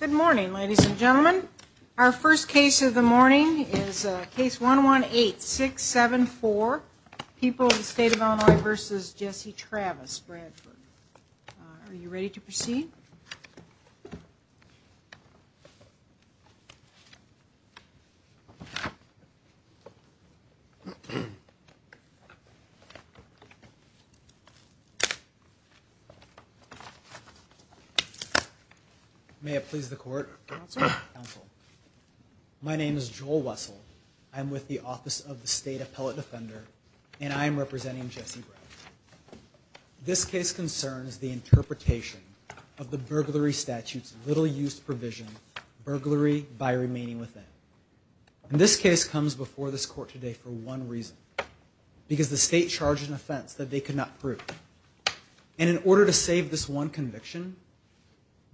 Good morning, ladies and gentlemen. Our first case of the morning is case 118674, People of the State of Illinois v. Jesse Travis, Bradford. Are you ready to proceed? May it please the court. My name is Joel Wessel. I'm with the Office of the State Appellate Defender and I'm representing Jesse Bradford. This case concerns the interpretation of the burglary statute's little-used provision, burglary by remaining within. This case comes before this court today for one reason, because the state charged an offense that they could not prove. And in order to save this one conviction,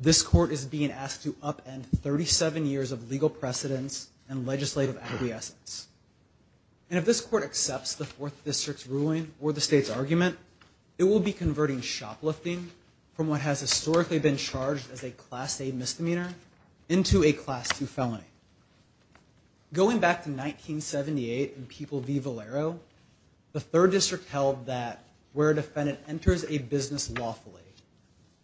this court is being asked to upend 37 years of legal precedence and legislative acquiescence. And if this court accepts the Fourth District's ruling or the state's argument, it will be converting shoplifting from what has historically been charged as a Class A misdemeanor into a Class II felony. Going back to 1978 in People v. Valero, the Third District held that where a defendant enters a business lawfully,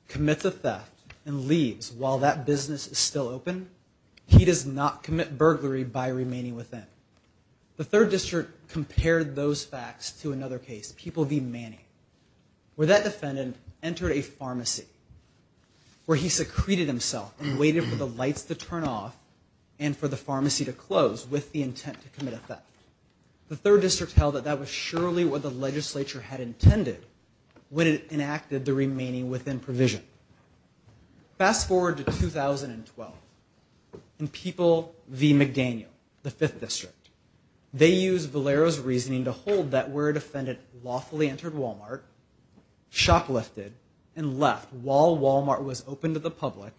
commits a theft, and leaves while that business is still open, he does not commit burglary by remaining within. The Third District compared those facts to another case, People v. Manning, where that defendant entered a pharmacy where he secreted himself and waited for the lights to turn off and for the pharmacy to close with the intent to commit a theft. The Third District held that that was surely what the legislature had intended when it enacted the remaining within provision. Fast forward to 2012 in People v. McDaniel, the Fifth District. They used Valero's reasoning to hold that where a defendant lawfully entered Walmart, shoplifted, and left while Walmart was open to the public,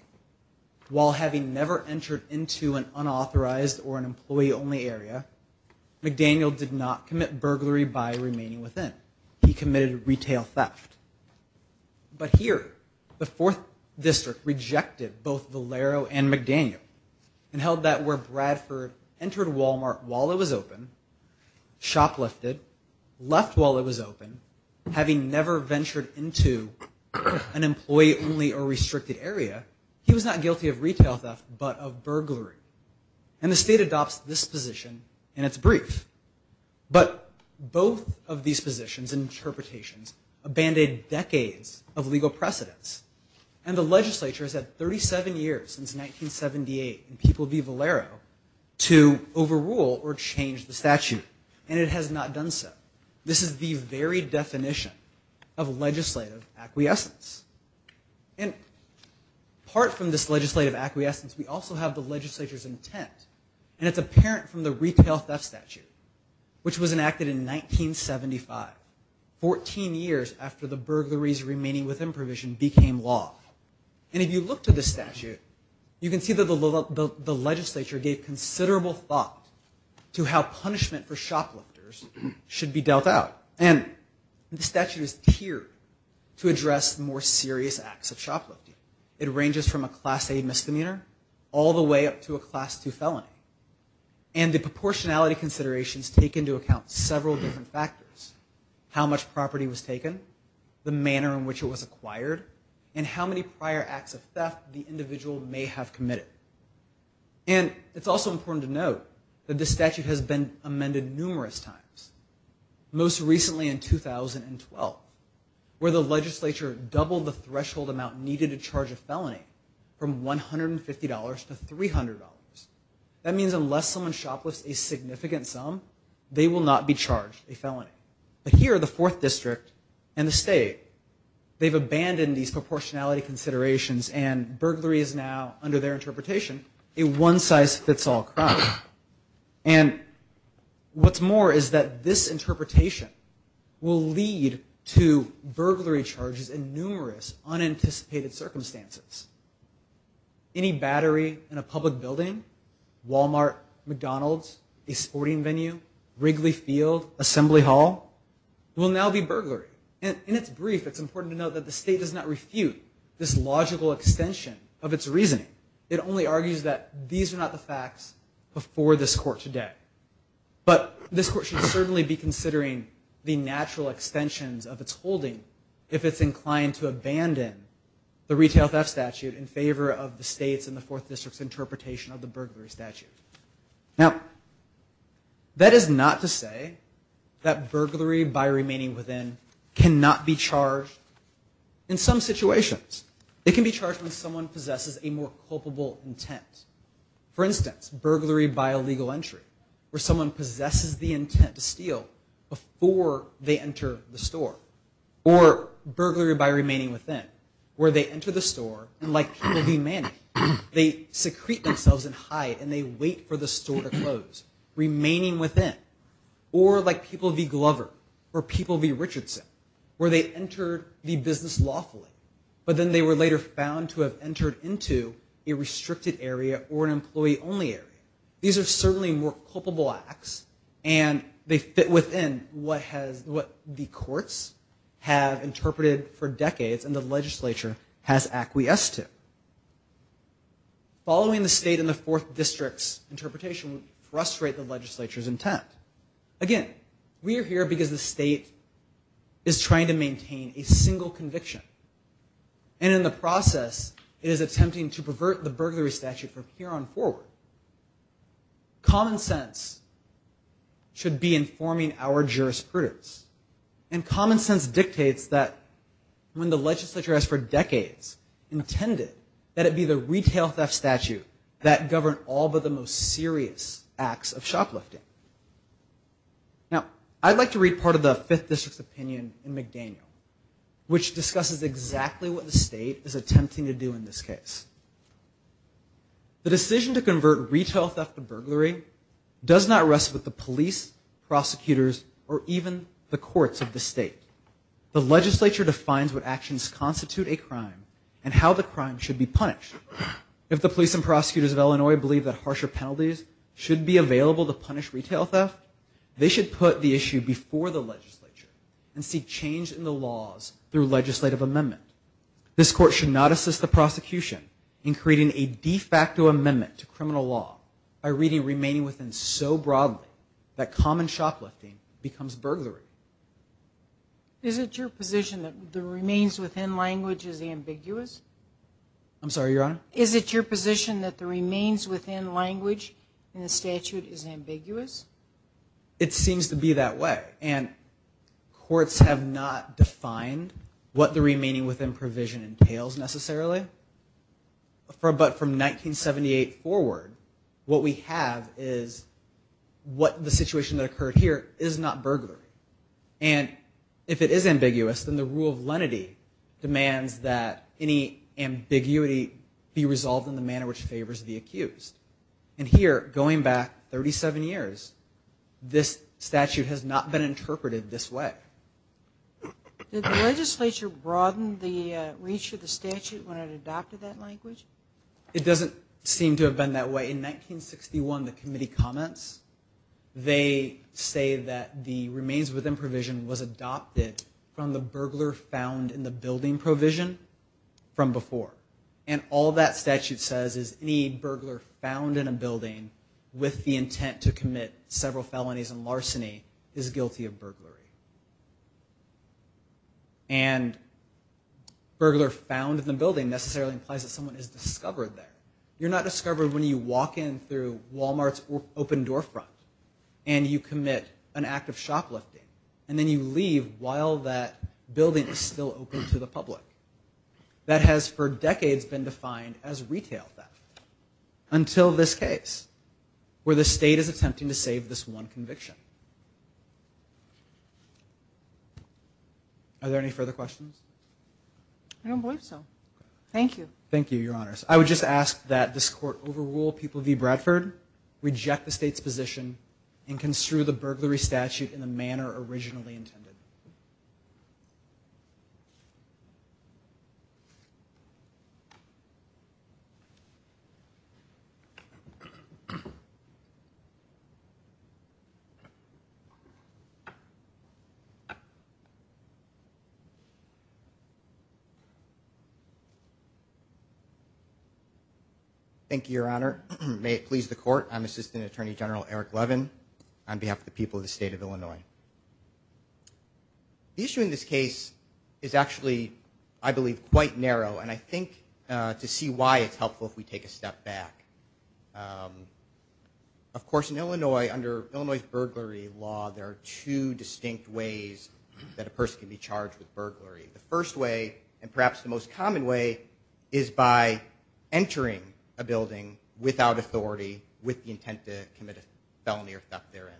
while having never entered into an unauthorized or an employee-only area, McDaniel did not commit burglary by remaining within. He committed retail theft. But here, the Fourth District rejected both Valero and McDaniel and held that where Bradford entered Walmart while it was open, shoplifted, left while it was open, having never ventured into an employee-only or restricted area, he was not guilty of retail theft but of burglary. And the state adopts this position in its brief. But both of these positions and interpretations abandoned decades of legal precedence. And the legislature has had 37 years since 1978 in People v. Valero to overrule or change the statute. And it has not done so. This is the very definition of legislative acquiescence. And apart from this legislative acquiescence, we also have the legislature's intent. And it's apparent from the retail theft statute, which was enacted in 1975, 14 years after the burglaries remaining within provision became law. And if you look to the statute, you can see that the legislature gave considerable thought to how punishment for shoplifters should be dealt out. And the statute is here to address more serious acts of shoplifting. It ranges from a Class A misdemeanor all the way up to a Class II felony. And the proportionality considerations take into account several different factors, how much property was taken, the manner in which it was acquired, and how many prior acts of theft the individual may have committed. And it's also important to note that the statute has been amended numerous times. Most recently in 2012, where the legislature doubled the threshold amount needed to charge a felony from $150 to $300. That means unless someone shoplifts a significant sum, they will not be charged a felony. But here, the Fourth District and the state, they've abandoned these proportionality considerations, and burglary is now, under their interpretation, a one-size-fits-all crime. And what's more is that this interpretation will lead to burglary charges in numerous unanticipated circumstances. Any battery in a public building, Walmart, McDonald's, a sporting venue, Wrigley Field, Assembly Hall, will now be burglary. And in its brief, it's important to note that the state does not refute this logical extension of its reasoning. It only argues that these are not the facts before this court today. But this court should certainly be considering the natural extensions of its holding if it's inclined to abandon the Retail Theft Statute in favor of the state's and the Fourth District's interpretation of the burglary statute. Now, that is not to say that burglary by remaining within cannot be charged in some situations. It can be charged when someone possesses a more culpable intent. For instance, burglary by illegal entry, where someone possesses the intent to steal before they enter the store. Or burglary by remaining within, where they enter the store and, like people v. Manning, they secrete themselves and hide and they wait for the store to close. Remaining within. Or, like people v. Glover, or people v. Richardson, where they entered the business lawfully, but then they were later found to have entered into a restricted area or an employee-only area. These are certainly more culpable acts and they fit within what the courts have interpreted for decades and the legislature has acquiesced to. Following the state and the Fourth District's interpretation would frustrate the legislature's intent. Again, we are here because the state is trying to maintain a single conviction. And in the process, it is attempting to pervert the burglary statute from here on forward. Common sense should be informing our jurisprudence. And common sense dictates that when the legislature has for decades intended that it be the retail theft statute that governed all but the most serious acts of shoplifting. Now, I'd like to read part of the Fifth District's opinion in McDaniel, which discusses exactly what the state is attempting to do in this case. The decision to convert retail theft to burglary does not rest with the police, prosecutors, or even the courts of the state. The legislature defines what actions constitute a crime and how the crime should be punished. If the police and prosecutors of Illinois believe that harsher penalties should be available to punish retail theft, they should put the issue before the legislature and seek change in the laws through legislative amendment. This court should not assist the prosecution in creating a de facto amendment to criminal law by reading remaining within so broadly that common shoplifting becomes burglary. Is it your position that the remains within language is ambiguous? I'm sorry, Your Honor? Is it your position that the remains within language in the statute is ambiguous? It seems to be that way, and courts have not defined what the remaining within provision entails necessarily. But from 1978 forward, what we have is what the situation that occurred here is not burglary. And if it is ambiguous, then the rule of lenity demands that any ambiguity be resolved in the manner which favors the accused. And here, going back 37 years, this statute has not been interpreted this way. Did the legislature broaden the reach of the statute when it adopted that language? It doesn't seem to have been that way. In 1961, the committee comments. They say that the remains within provision was adopted from the burglar found in the building provision from before. And all that statute says is any burglar found in a building with the intent to commit several felonies and larceny is guilty of burglary. And burglar found in the building necessarily implies that someone is discovered there. You're not discovered when you walk in through Walmart's open door front and you commit an act of shoplifting. And then you leave while that building is still open to the public. That has for decades been defined as retail theft until this case where the state is attempting to save this one conviction. Are there any further questions? I don't believe so. Thank you. Thank you, Your Honors. I would just ask that this court overrule People v. Bradford, reject the state's position, and construe the burglary statute in the manner originally intended. Thank you, Your Honor. I'm Assistant Attorney General Eric Levin on behalf of the people of the state of Illinois. The issue in this case is actually, I believe, quite narrow, and I think to see why it's helpful if we take a step back. Of course, in Illinois, under Illinois' burglary law, there are two distinct ways that a person can be charged with burglary. The first way, and perhaps the most common way, is by entering a building without authority with the intent to commit a felony or theft therein.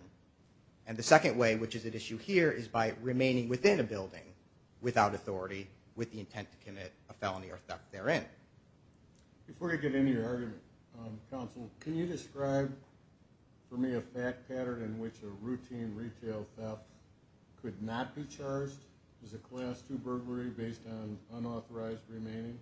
And the second way, which is at issue here, is by remaining within a building without authority with the intent to commit a felony or theft therein. Before you get into your argument, counsel, can you describe for me a fact pattern in which a routine retail theft could not be charged as a Class II burglary based on unauthorized remaining?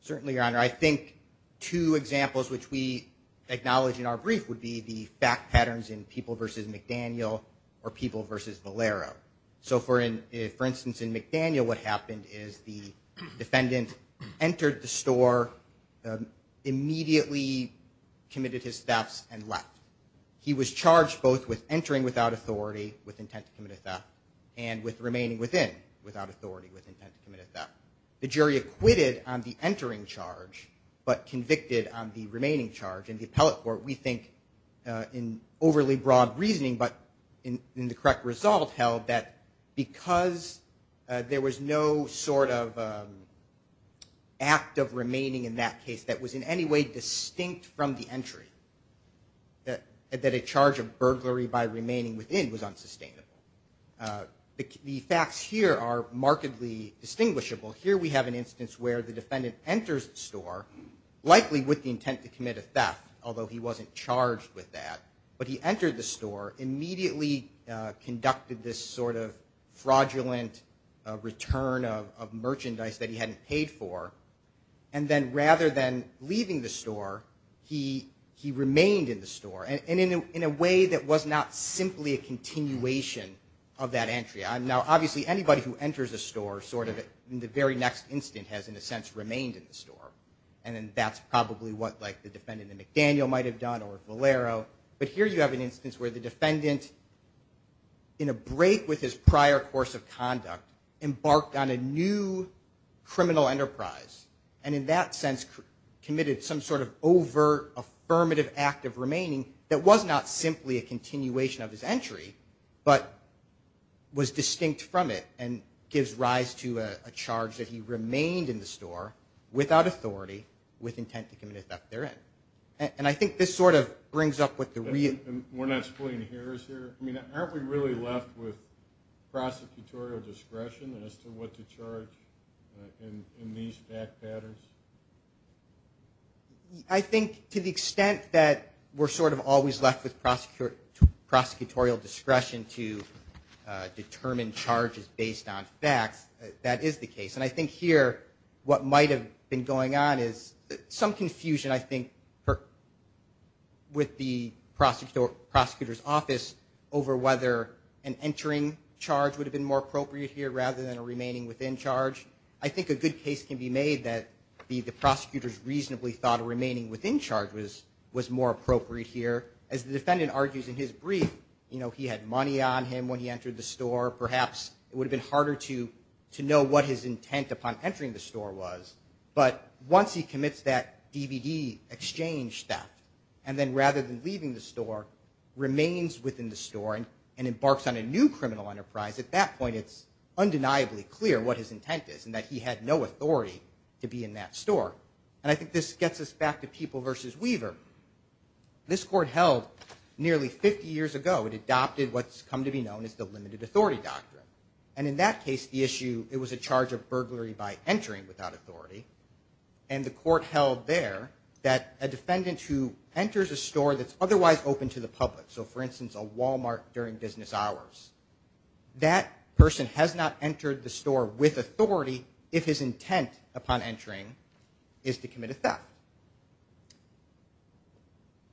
Certainly, Your Honor. I think two examples which we acknowledge in our brief would be the fact patterns in People v. McDaniel or People v. Valero. For instance, in McDaniel, what happened is the defendant entered the store, immediately committed his thefts, and left. He was charged both with entering without authority with intent to commit a theft and with remaining within without authority with intent to commit a theft. The jury acquitted on the entering charge but convicted on the remaining charge. And the appellate court, we think, in overly broad reasoning but in the correct result, held that because there was no sort of act of remaining in that case that was in any way distinct from the entry, that a charge of burglary by remaining within was unsustainable. The facts here are markedly distinguishable. Here we have an instance where the defendant enters the store, likely with the intent to commit a theft, although he wasn't charged with that, but he entered the store, immediately conducted this sort of fraudulent return of merchandise that he hadn't paid for, and then rather than leaving the store, he remained in the store. And in a way that was not simply a continuation of that entry. Now, obviously, anybody who enters a store sort of in the very next instant has, in a sense, remained in the store. And that's probably what the defendant in McDaniel might have done or Valero. But here you have an instance where the defendant, in a break with his prior course of conduct, embarked on a new criminal enterprise and in that sense committed some sort of over-affirmative act of remaining that was not simply a continuation of his entry, but was distinct from that entry. And gives rise to a charge that he remained in the store, without authority, with intent to commit a theft therein. And I think this sort of brings up what the real... I think to the extent that we're sort of always left with prosecutorial discretion to determine whether or not the defendant was charged with a crime or not, I think this sort of brings up what the real... And I think to the extent that we're always left with prosecutorial discretion to determine whether or not the defendant was charged with a crime or not, I think this sort of brings up what the real... Some confusion I think with the prosecutor's office over whether an entering charge would have been more appropriate here rather than a remaining within charge. I think a good case can be made that the prosecutor's reasonably thought of remaining within charge was more appropriate here. As the defendant argues in his brief, you know, he had money on him when he entered the store. Perhaps it would have been harder to know what his intent upon entering the store was. But once he commits that DVD exchange theft and then rather than leaving the store, remains within the store and embarks on a new criminal enterprise, at that point it's undeniably clear what his intent is and that he had no authority to be in that store. And I think this gets us back to People v. Weaver. This court held nearly 50 years ago, it adopted what's come to be known as the limited authority doctrine. And in that case, the issue, it was a charge of burglary by entering without authority. And the court held there that a defendant who enters a store that's otherwise open to the public, so for instance a Walmart during business hours, that person has not entered the store with authority if his intent upon entering was limited. And the court held that the intent upon entering the store is to commit a theft.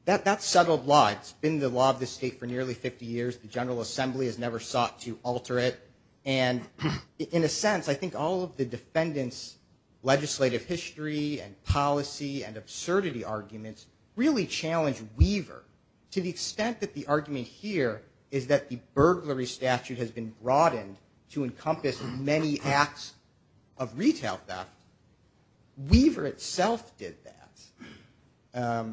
That's settled law. It's been the law of the state for nearly 50 years. The General Assembly has never sought to alter it. And in a sense, I think all of the defendant's legislative history and policy and absurdity arguments really challenge Weaver to the extent that the argument here is that the burglary statute has been broadened to encompass many acts of retail theft. Weaver itself did that.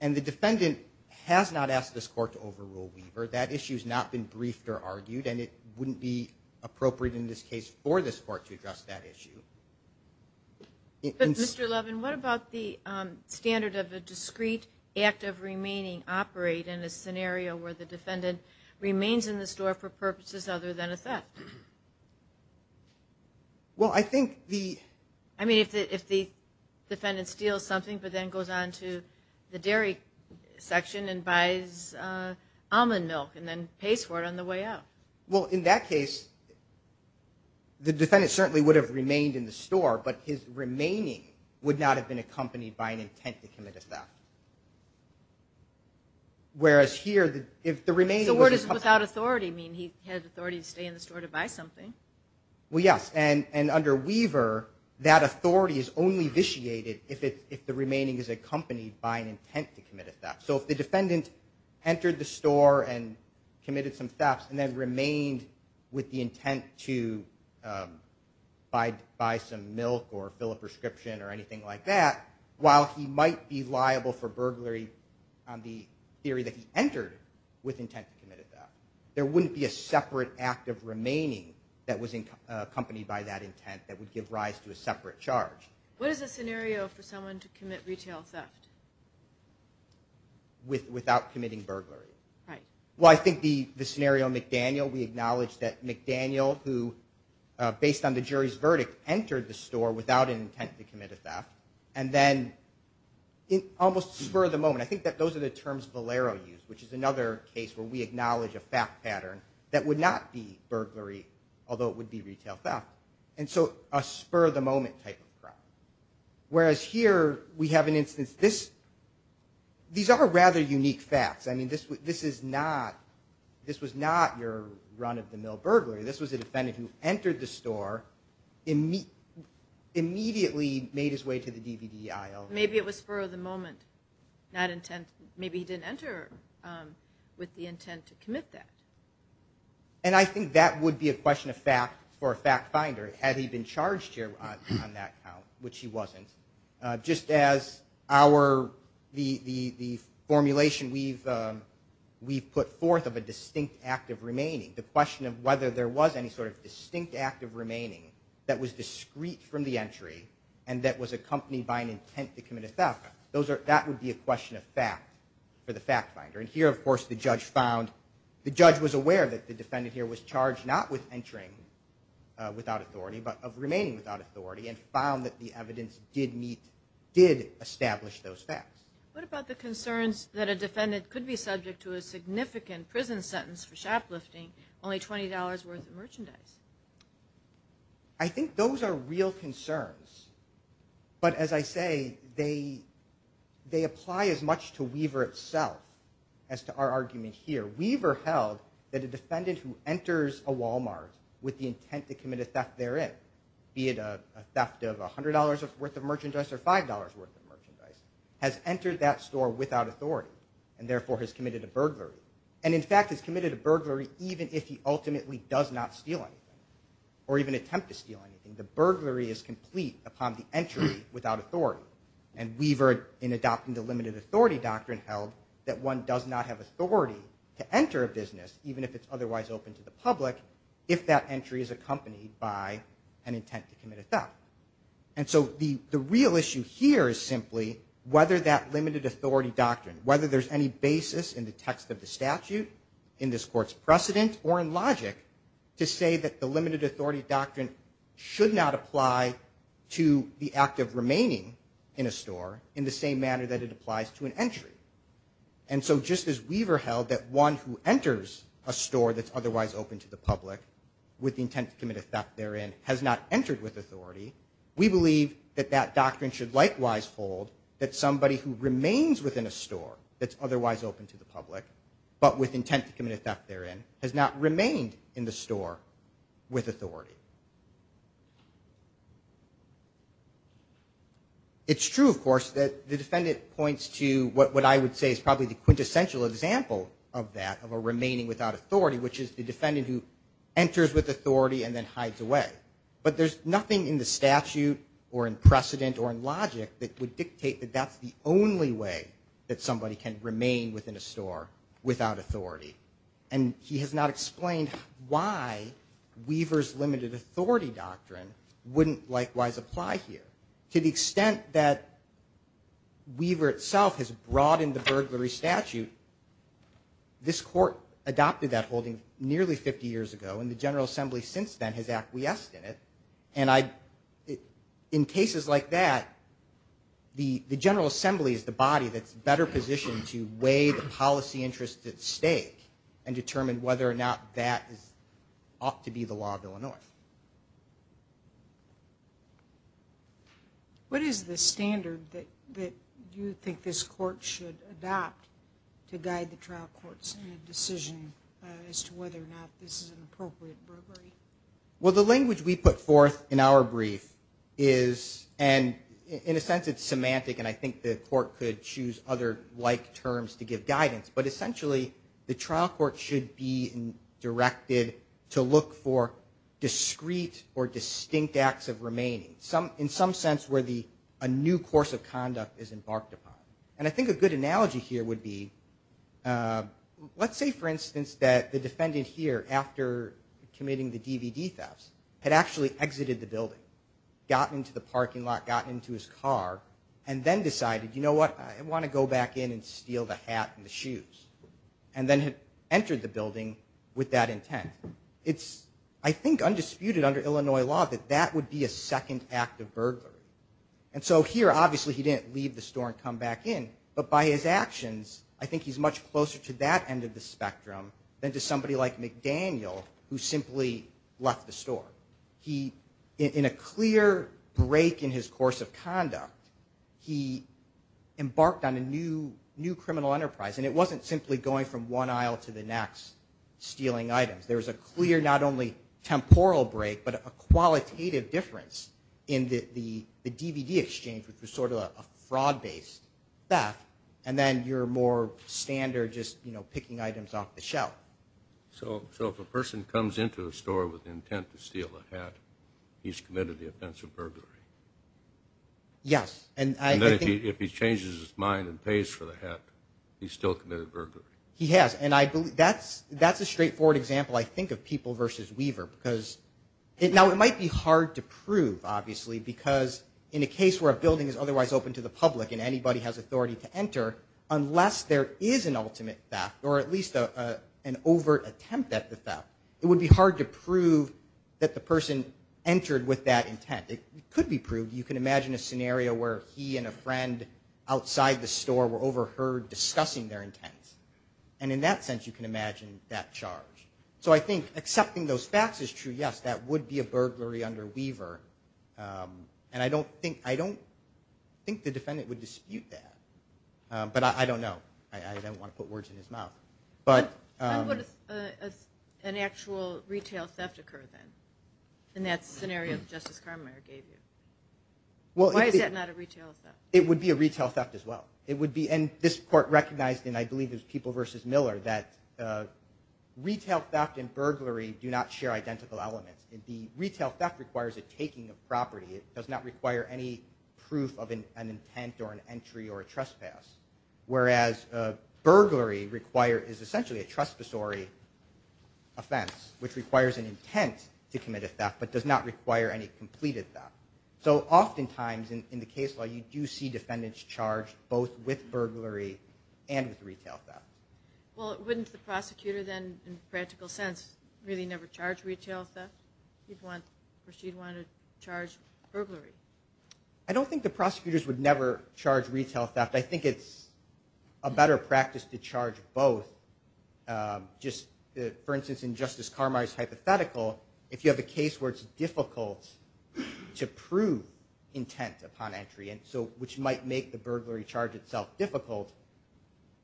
And the defendant has not asked this court to overrule Weaver. That issue has not been briefed or argued and it wouldn't be appropriate in this case for this court to address that issue. But Mr. Levin, what about the standard of a discrete act of remaining operate in a scenario where the defendant remains in the store for purposes other than a theft? Well, I think the... I mean, if the defendant steals something but then goes on to the dairy section and buys almond milk and then pays for it on the way out. Well, in that case, the defendant certainly would have remained in the store, but his remaining would not have been accompanied by an intent to commit a theft. Whereas here, if the remaining... So what does without authority mean? He has authority to stay in the store to buy something? Well, yes. And under Weaver, that authority is only vitiated if the remaining is accompanied by an intent to commit a theft. So if the defendant entered the store and committed some thefts and then remained with the intent to buy some milk or fill a prescription or anything like that, while he might be liable for a theft, he would have remained in the store. He would not have been liable for burglary on the theory that he entered with intent to commit a theft. There wouldn't be a separate act of remaining that was accompanied by that intent that would give rise to a separate charge. What is a scenario for someone to commit retail theft? Without committing burglary. Right. Well, I think the scenario McDaniel, we acknowledge that McDaniel, who, based on the jury's verdict, entered the store without an intent to commit a theft. And then almost spur of the moment, I think that those are the terms Valero used, which is another case where we acknowledge a theft pattern that would not be burglary, although it would be retail theft. And so a spur of the moment type of crime. Whereas here, we have an instance... These are rather unique thefts. I mean, this is not... This was not your run-of-the-mill burglary. This was a defendant who entered the store, immediately made his way to the store. Made his way to the DVD aisle. Maybe it was spur of the moment. Not intent... Maybe he didn't enter with the intent to commit that. And I think that would be a question of fact for a fact finder, had he been charged here on that count, which he wasn't. Just as our... The formulation we've put forth of a distinct act of remaining. The question of whether there was any sort of distinct act of remaining that was discreet from the entry and that was accompanied by an intent to commit a theft. That would be a question of fact for the fact finder. And here, of course, the judge found... The judge was aware that the defendant here was charged not with entering without authority, but of remaining without authority, and found that the evidence did meet... Did establish those facts. What about the concerns that a defendant could be subject to a significant prison sentence for shoplifting, only $20 worth of merchandise? I think those are real concerns. But as I say, they apply as much to Weaver itself as to our argument here. Weaver held that a defendant who enters a Walmart with the intent to commit a theft therein, be it a theft of $100 worth of merchandise or $5 worth of merchandise, has entered that store without authority, and therefore has committed a burglary. And, in fact, has committed a burglary even if he ultimately does not steal anything or even attempt to steal anything. The burglary is complete upon the entry without authority. And Weaver, in adopting the limited authority doctrine, held that one does not have authority to enter a business, even if it's otherwise open to the public, if that entry is accompanied by an intent to commit a theft. And so the real issue here is simply whether that limited authority doctrine, whether there's any basis in the text of the statute, in this Court's precedent, or in logic, to say that the limited authority doctrine should not apply to the act of remaining in a store in the same manner that it applies to an entry. And so just as Weaver held that one who enters a store that's otherwise open to the public with the intent to commit a theft therein has not entered with authority, we believe that that doctrine should likewise hold that somebody who remains within a store that's otherwise open to the public, but with intent to commit a theft therein, has not remained in the store with authority. It's true, of course, that the defendant points to what I would say is probably the quintessential example of that, of a remaining without authority, which is the defendant who enters with authority and then hides away. That would dictate that that's the only way that somebody can remain within a store without authority. And he has not explained why Weaver's limited authority doctrine wouldn't likewise apply here. To the extent that Weaver itself has broadened the burglary statute, this Court adopted that holding nearly 50 years ago, and the General Assembly since then has acquiesced in it. And in cases like that, the General Assembly is the body that's better positioned to weigh the policy interests at stake and determine whether or not that ought to be the law of Illinois. What is the standard that you think this Court should adopt to guide the trial courts in a decision as to whether or not this is an appropriate burglary? Well, the language we put forth in our brief is and in a sense it's semantic, and I think the Court could choose other like terms to give guidance, but essentially the trial court should be directed to look for discrete or distinct acts of remaining, in some sense where a new course of conduct is embarked upon. And I think a good analogy here would be, let's say for instance that the defendant here, after committing the DVD thefts, had actually exited the building, got into the parking lot, got into his car and then decided, you know what, I want to go back in and steal the hat and the shoes. And then had entered the building with that intent. It's, I think, undisputed under Illinois law that that would be a second act of burglary. And so here obviously he didn't leave the store and come back in, but by his actions, I think he's much closer to that end of the spectrum than to somebody like McDaniel who simply left the store. He, in a clear break in his course of conduct, he embarked on a new criminal enterprise. And it wasn't simply going from one aisle to the next stealing items. There was a clear, not only temporal break, but a qualitative difference in the DVD exchange which was sort of a fraud based theft. And then your more standard just, you know, picking items off the shelf. So if a person comes into a store with the intent to steal a hat, he's committed the offense of burglary? Yes. And if he changes his mind and pays for the hat, he's still committed burglary? He has. And that's a straightforward example, I think, of people versus Weaver. Now it might be hard to prove, obviously, because in a case where a building is otherwise open to the public and anybody has authority to enter, unless there is an ultimate theft or at least an overt attempt at the theft, it would be hard to prove that the person entered with that intent. It could be proved. You can imagine a scenario where he and a friend outside the store were overheard discussing their intent. And in that sense, you can imagine that charge. So I think accepting those facts is true, yes, that would be a burglary under Weaver. And I don't think the defendant would dispute that. But I don't know. I don't want to put words in his mouth. How would an actual retail theft occur, then, in that scenario that Justice Carmichael gave you? Why is that not a retail theft? It would be a retail theft as well. And this Court recognized in, I believe, People versus Miller that retail theft and burglary do not share identical elements. The retail theft requires a taking of property. It does not require any proof of an intent or an entry or a trespass. Whereas burglary is essentially a trespassory offense, which requires an intent to commit a theft, but does not require any completed theft. So oftentimes, in the case law, you do see defendants charged both with burglary and with retail theft. Well, wouldn't the prosecutor then, in practical sense, really never charge retail theft? He'd want, or she'd want to charge burglary. I don't think the prosecutors would never charge retail theft. I think it's a better practice to charge both. Just, for instance, in Justice Carmichael's hypothetical, if you have a case where it's difficult to prove intent upon entry, which might make the burglary charge itself difficult,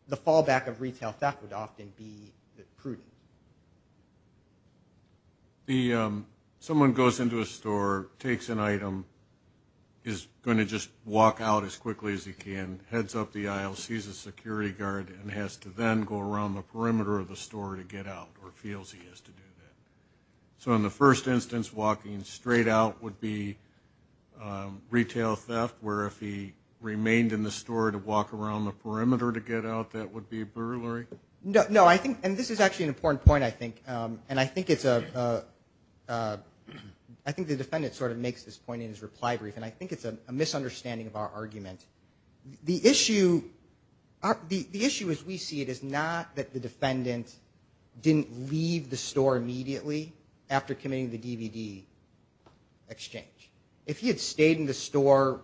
the fallback of retail theft would often be prudent. Someone goes into a store, takes an item, is going to just walk out as quickly as he can, heads up the aisle, sees a security guard and has to then go around the perimeter of the store to get out, or feels he has to do that. So in the first instance, walking straight out would be retail theft, where if he remained in the store to walk around the perimeter to get out, that would be burglary? No, I think, and this is actually an important point, I think, and I think it's a I think the defendant sort of makes this point in his reply brief, and I think it's a misunderstanding of our argument. The issue as we see it is not that the defendant didn't leave the store immediately after committing the DVD exchange. If he had stayed in the store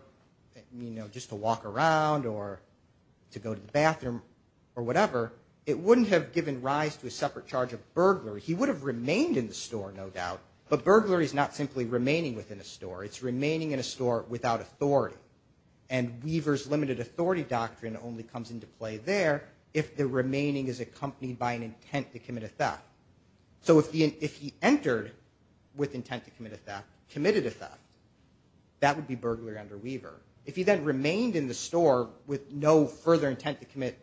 just to walk around or to go to the bathroom or whatever, it wouldn't have given rise to a separate charge of burglary. He would have remained in the store, no doubt, but burglary is not simply remaining within a store. It's remaining in a store without authority. And Weaver's limited authority doctrine only comes into play there if the remaining is accompanied by an intent to commit a theft. So if he entered with intent to commit a theft, committed a theft, that would be burglary under Weaver. If he then remained in the store with no further intent to commit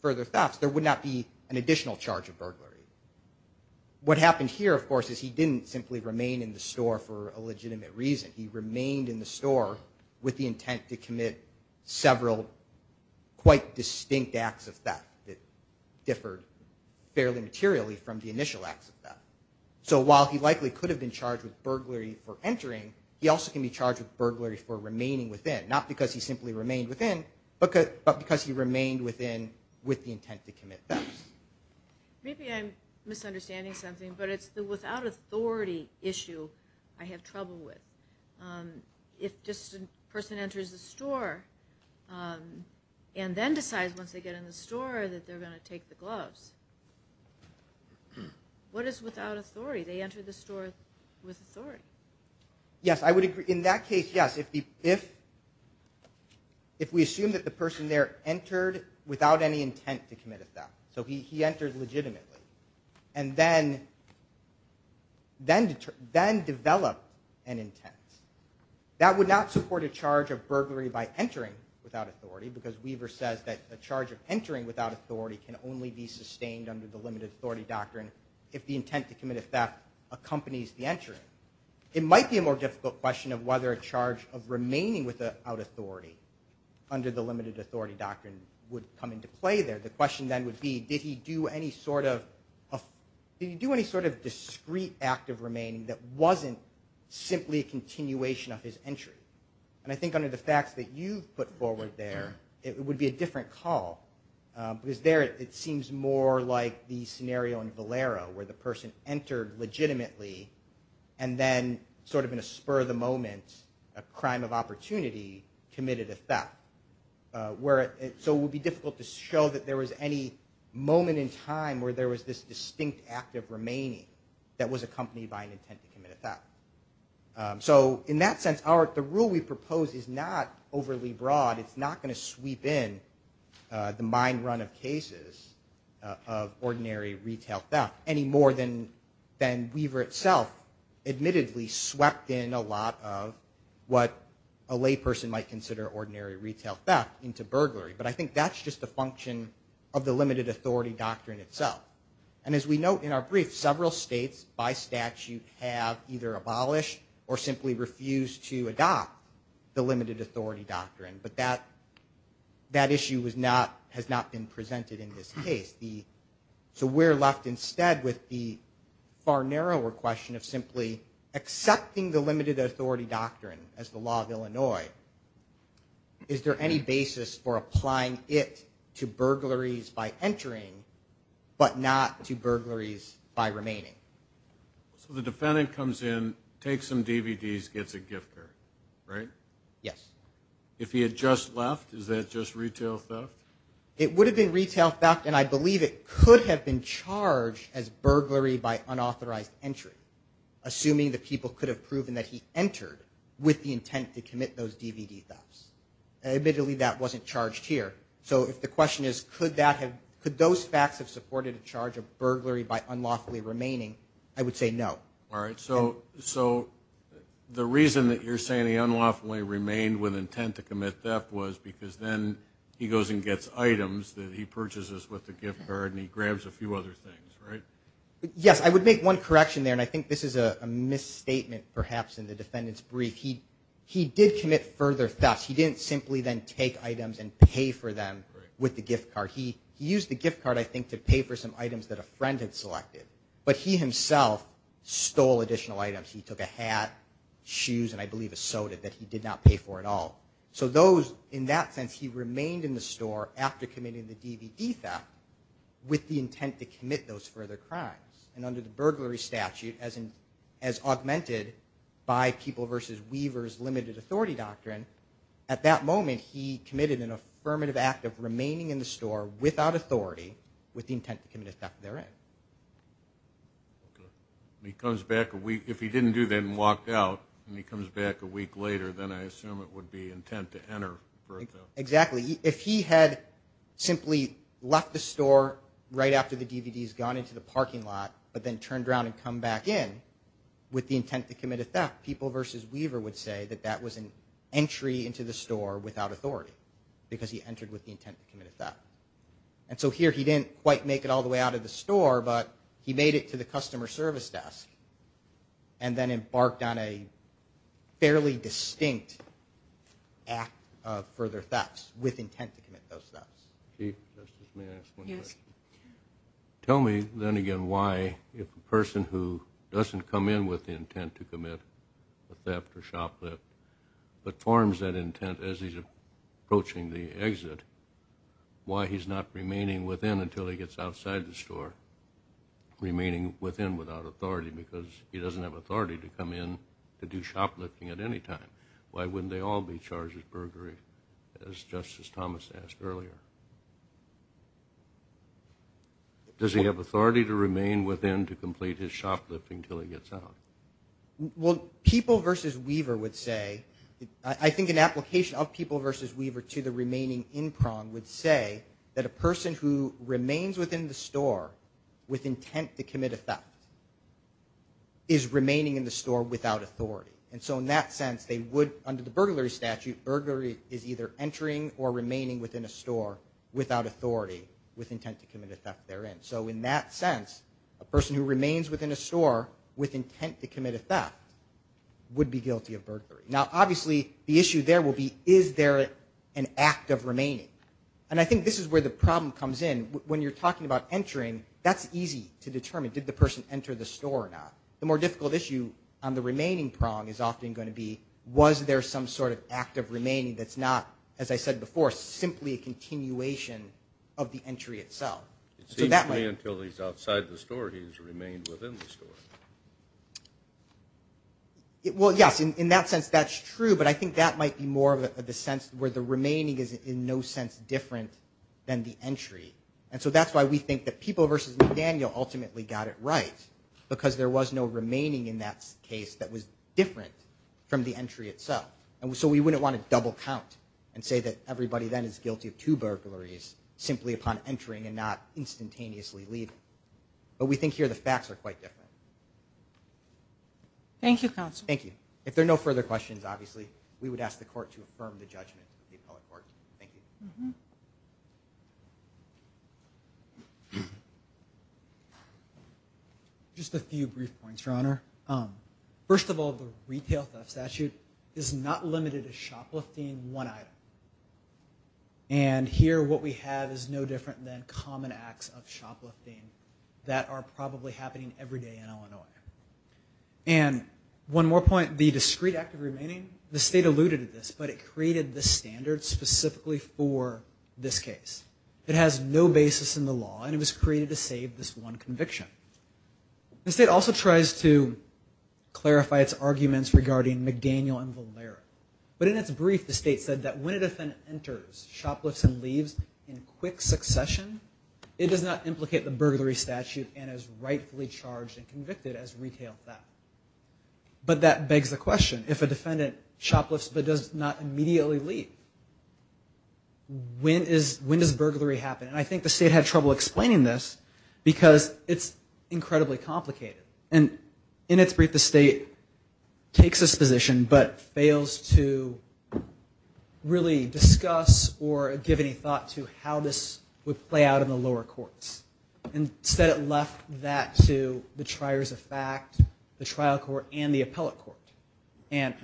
further thefts, there would not be an additional charge of burglary. What happened here, of course, is he didn't simply remain in the store for a legitimate reason. He remained in the store with the intent to commit several quite distinct acts of theft that differed fairly materially from the initial acts of theft. So while he likely could have been charged with burglary for entering, he also can be charged with burglary for remaining within. Not because he simply remained within, but because he remained within with the intent to commit thefts. Maybe I'm misunderstanding something, but it's the without authority issue I have trouble with. If just a person enters the store and then decides once they get in the store that they're going to take the gloves, what is without authority? They enter the store with authority. Yes, I would agree. In that case, yes. If we assume that the person there entered without any intent to commit a theft, so he entered legitimately, and then developed an intent. That would not support a charge of burglary by entering without authority, because Weaver says that a charge of entering without authority can only be sustained under the limited authority doctrine if the intent to commit a theft accompanies the entering. It might be a more difficult question of whether a charge of remaining without authority under the limited authority doctrine would come into play there. The question then would be, did he do any sort of discrete act of remaining that wasn't simply a continuation of his entry? I think under the facts that you've put forward there, it would be a different call. Because there it seems more like the scenario in Valero where the person entered legitimately, and then in a spur of the moment, a crime of opportunity, committed a theft. So it would be difficult to show that there was any moment in time where there was this distinct act of remaining that was accompanied by an intent to commit a theft. In that sense, the rule we propose is not overly broad. It's not going to sweep in the mind run of cases of ordinary retail theft any more than Weaver itself admittedly swept in a lot of what a lay person might consider ordinary retail theft into burglary. But I think that's just a function of the limited authority doctrine itself. And as we note in our brief, several states by statute have either abolished or simply refused to adopt the limited authority doctrine. But that issue has not been presented in this case. So we're left instead with the far narrower question of simply accepting the limited authority doctrine as the law of Illinois. Is there any basis for applying it to burglaries by entering, but not to burglaries by remaining? So the defendant comes in, takes some DVDs, gets a gift card, right? Yes. If he had just It would have been retail theft, and I believe it could have been charged as burglary by unauthorized entry. Assuming the people could have proven that he entered with the intent to commit those DVD thefts. Admittedly, that wasn't charged here. So the question is, could those facts have supported a charge of burglary by unlawfully remaining? I would say no. So the reason that you're saying he unlawfully remained with intent to commit theft was because then he goes and gets items that he purchases with the gift card, and he grabs a few other things, right? Yes. I would make one correction there, and I think this is a misstatement perhaps in the defendant's brief. He did commit further thefts. He didn't simply then take items and pay for them with the gift card. He used the gift card I think to pay for some items that a friend had selected. But he himself stole additional items. He took a hat, shoes, and I believe a he didn't pay for it all. So those, in that sense, he remained in the store after committing the DVD theft with the intent to commit those further crimes. And under the burglary statute, as augmented by People v. Weaver's limited authority doctrine, at that moment he committed an affirmative act of remaining in the store without authority with the intent to commit a theft therein. He comes back a week, if he didn't do that and walked out, and he comes back a week later, then I assume it would be intent to enter. Exactly. If he had simply left the store right after the DVDs gone into the parking lot, but then turned around and come back in with the intent to commit a theft, People v. Weaver would say that that was an entry into the store without authority, because he entered with the intent to commit a theft. And so here he didn't quite make it all the way out of the store, but he made it to the customer service desk and then embarked on a fairly distinct act of further thefts with intent to commit those thefts. Chief, may I ask one question? Yes. Tell me, then again, why, if a person who doesn't come in with the intent to commit a theft or shoplift, but forms that intent as he's approaching the exit, why he's not remaining within until he gets outside the store, remaining within without authority, because he doesn't have authority to come in to do shoplifting at any time? Why wouldn't they all be charged with burglary, as Justice Thomas asked earlier? Does he have authority to remain within to complete his shoplifting until he gets out? Well, People v. Weaver would say, I think an application of People v. Weaver to the remaining in-prong would say that a person who with intent to commit a theft is remaining in the store without authority. And so in that sense, they would, under the burglary statute, burglary is either entering or remaining within a store without authority with intent to commit a theft therein. So in that sense, a person who remains within a store with intent to commit a theft would be guilty of burglary. Now, obviously, the issue there will be, is there an act of remaining? And I think this is where the problem comes in. When you're talking about entering, that's easy to determine. Did the person enter the store or not? The more difficult issue on the remaining prong is often going to be, was there some sort of act of remaining that's not, as I said before, simply a continuation of the entry itself? It seems to me, until he's outside the store, he's remained within the store. Well, yes. In that sense, that's true. But I think that might be more of the sense where the remaining is in no sense different than the entry. And so that's why we think that People v. McDaniel ultimately got it right, because there was no remaining in that case that was different from the entry itself. And so we wouldn't want to double count and say that everybody then is guilty of two burglaries simply upon entering and not instantaneously leaving. But we think here the facts are quite different. Thank you, Counsel. Thank you. If there are no further questions, obviously, we would ask the Court to affirm the judgment of the case. Just a few brief points, Your Honor. First of all, the retail theft statute is not limited to shoplifting one item. And here what we have is no different than common acts of shoplifting that are probably happening every day in Illinois. And one more point, the discrete act of remaining, the State alluded to this, but it created this standard specifically for this case. It has no basis in the law, and it was created to save this one conviction. The State also tries to clarify its arguments regarding McDaniel and Valera. But in its brief, the State said that when a defendant enters shoplifts and leaves in quick succession, it does not implicate the burglary statute and is rightfully charged and convicted as retail theft. But that begs the question, if a defendant shoplifts but does not immediately leave, when does burglary happen? And I think the State had trouble explaining this because it's incredibly complicated. And in its brief, the State takes this position but fails to really discuss or give any thought to how this would play out in the lower courts. Instead, it left that to the triers of fact, the trial court, and the appellate court. And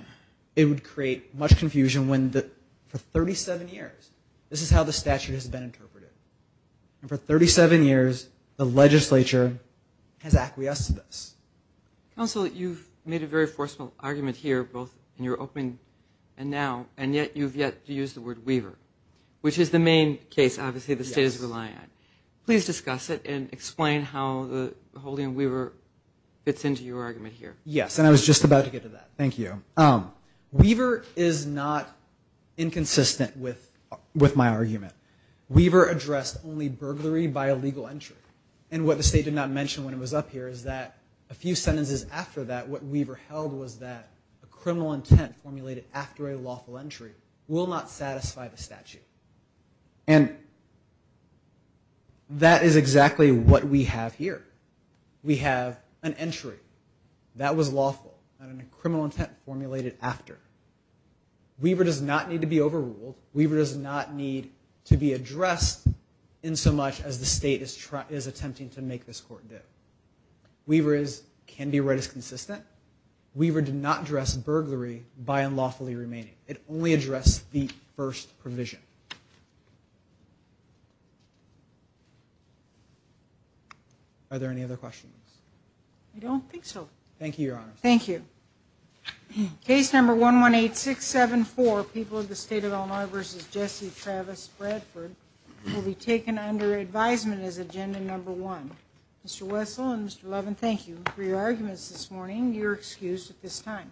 it would create much confusion when for 37 years, this is how the statute has been interpreted. And for 37 years, the legislature has acquiesced to this. Counsel, you've made a very forceful argument here, both in your opening and now, and yet you've yet to use the word weaver, which is the main case, obviously, the State is relying on. Please discuss it and explain how the holding of weaver fits into your argument. Thank you. Weaver is not inconsistent with my argument. Weaver addressed only burglary by illegal entry. And what the State did not mention when it was up here is that a few sentences after that, what weaver held was that a criminal intent formulated after a lawful entry will not satisfy the statute. And that is exactly what we have here. We have an entry that was lawful and a criminal intent formulated after. Weaver does not need to be overruled. Weaver does not need to be addressed insomuch as the State is attempting to make this court do. Weaver can be read as consistent. Weaver did not address burglary by unlawfully remaining. It only addressed the first provision. Are there any other questions? I don't think so. Thank you, Your Honor. Thank you. Case number 118674, People of the State of Illinois v. Jesse Travis Bradford, will be taken under advisement as agenda number one. Mr. Wessel and Mr. Levin, thank you for your arguments this morning. You are excused at this time.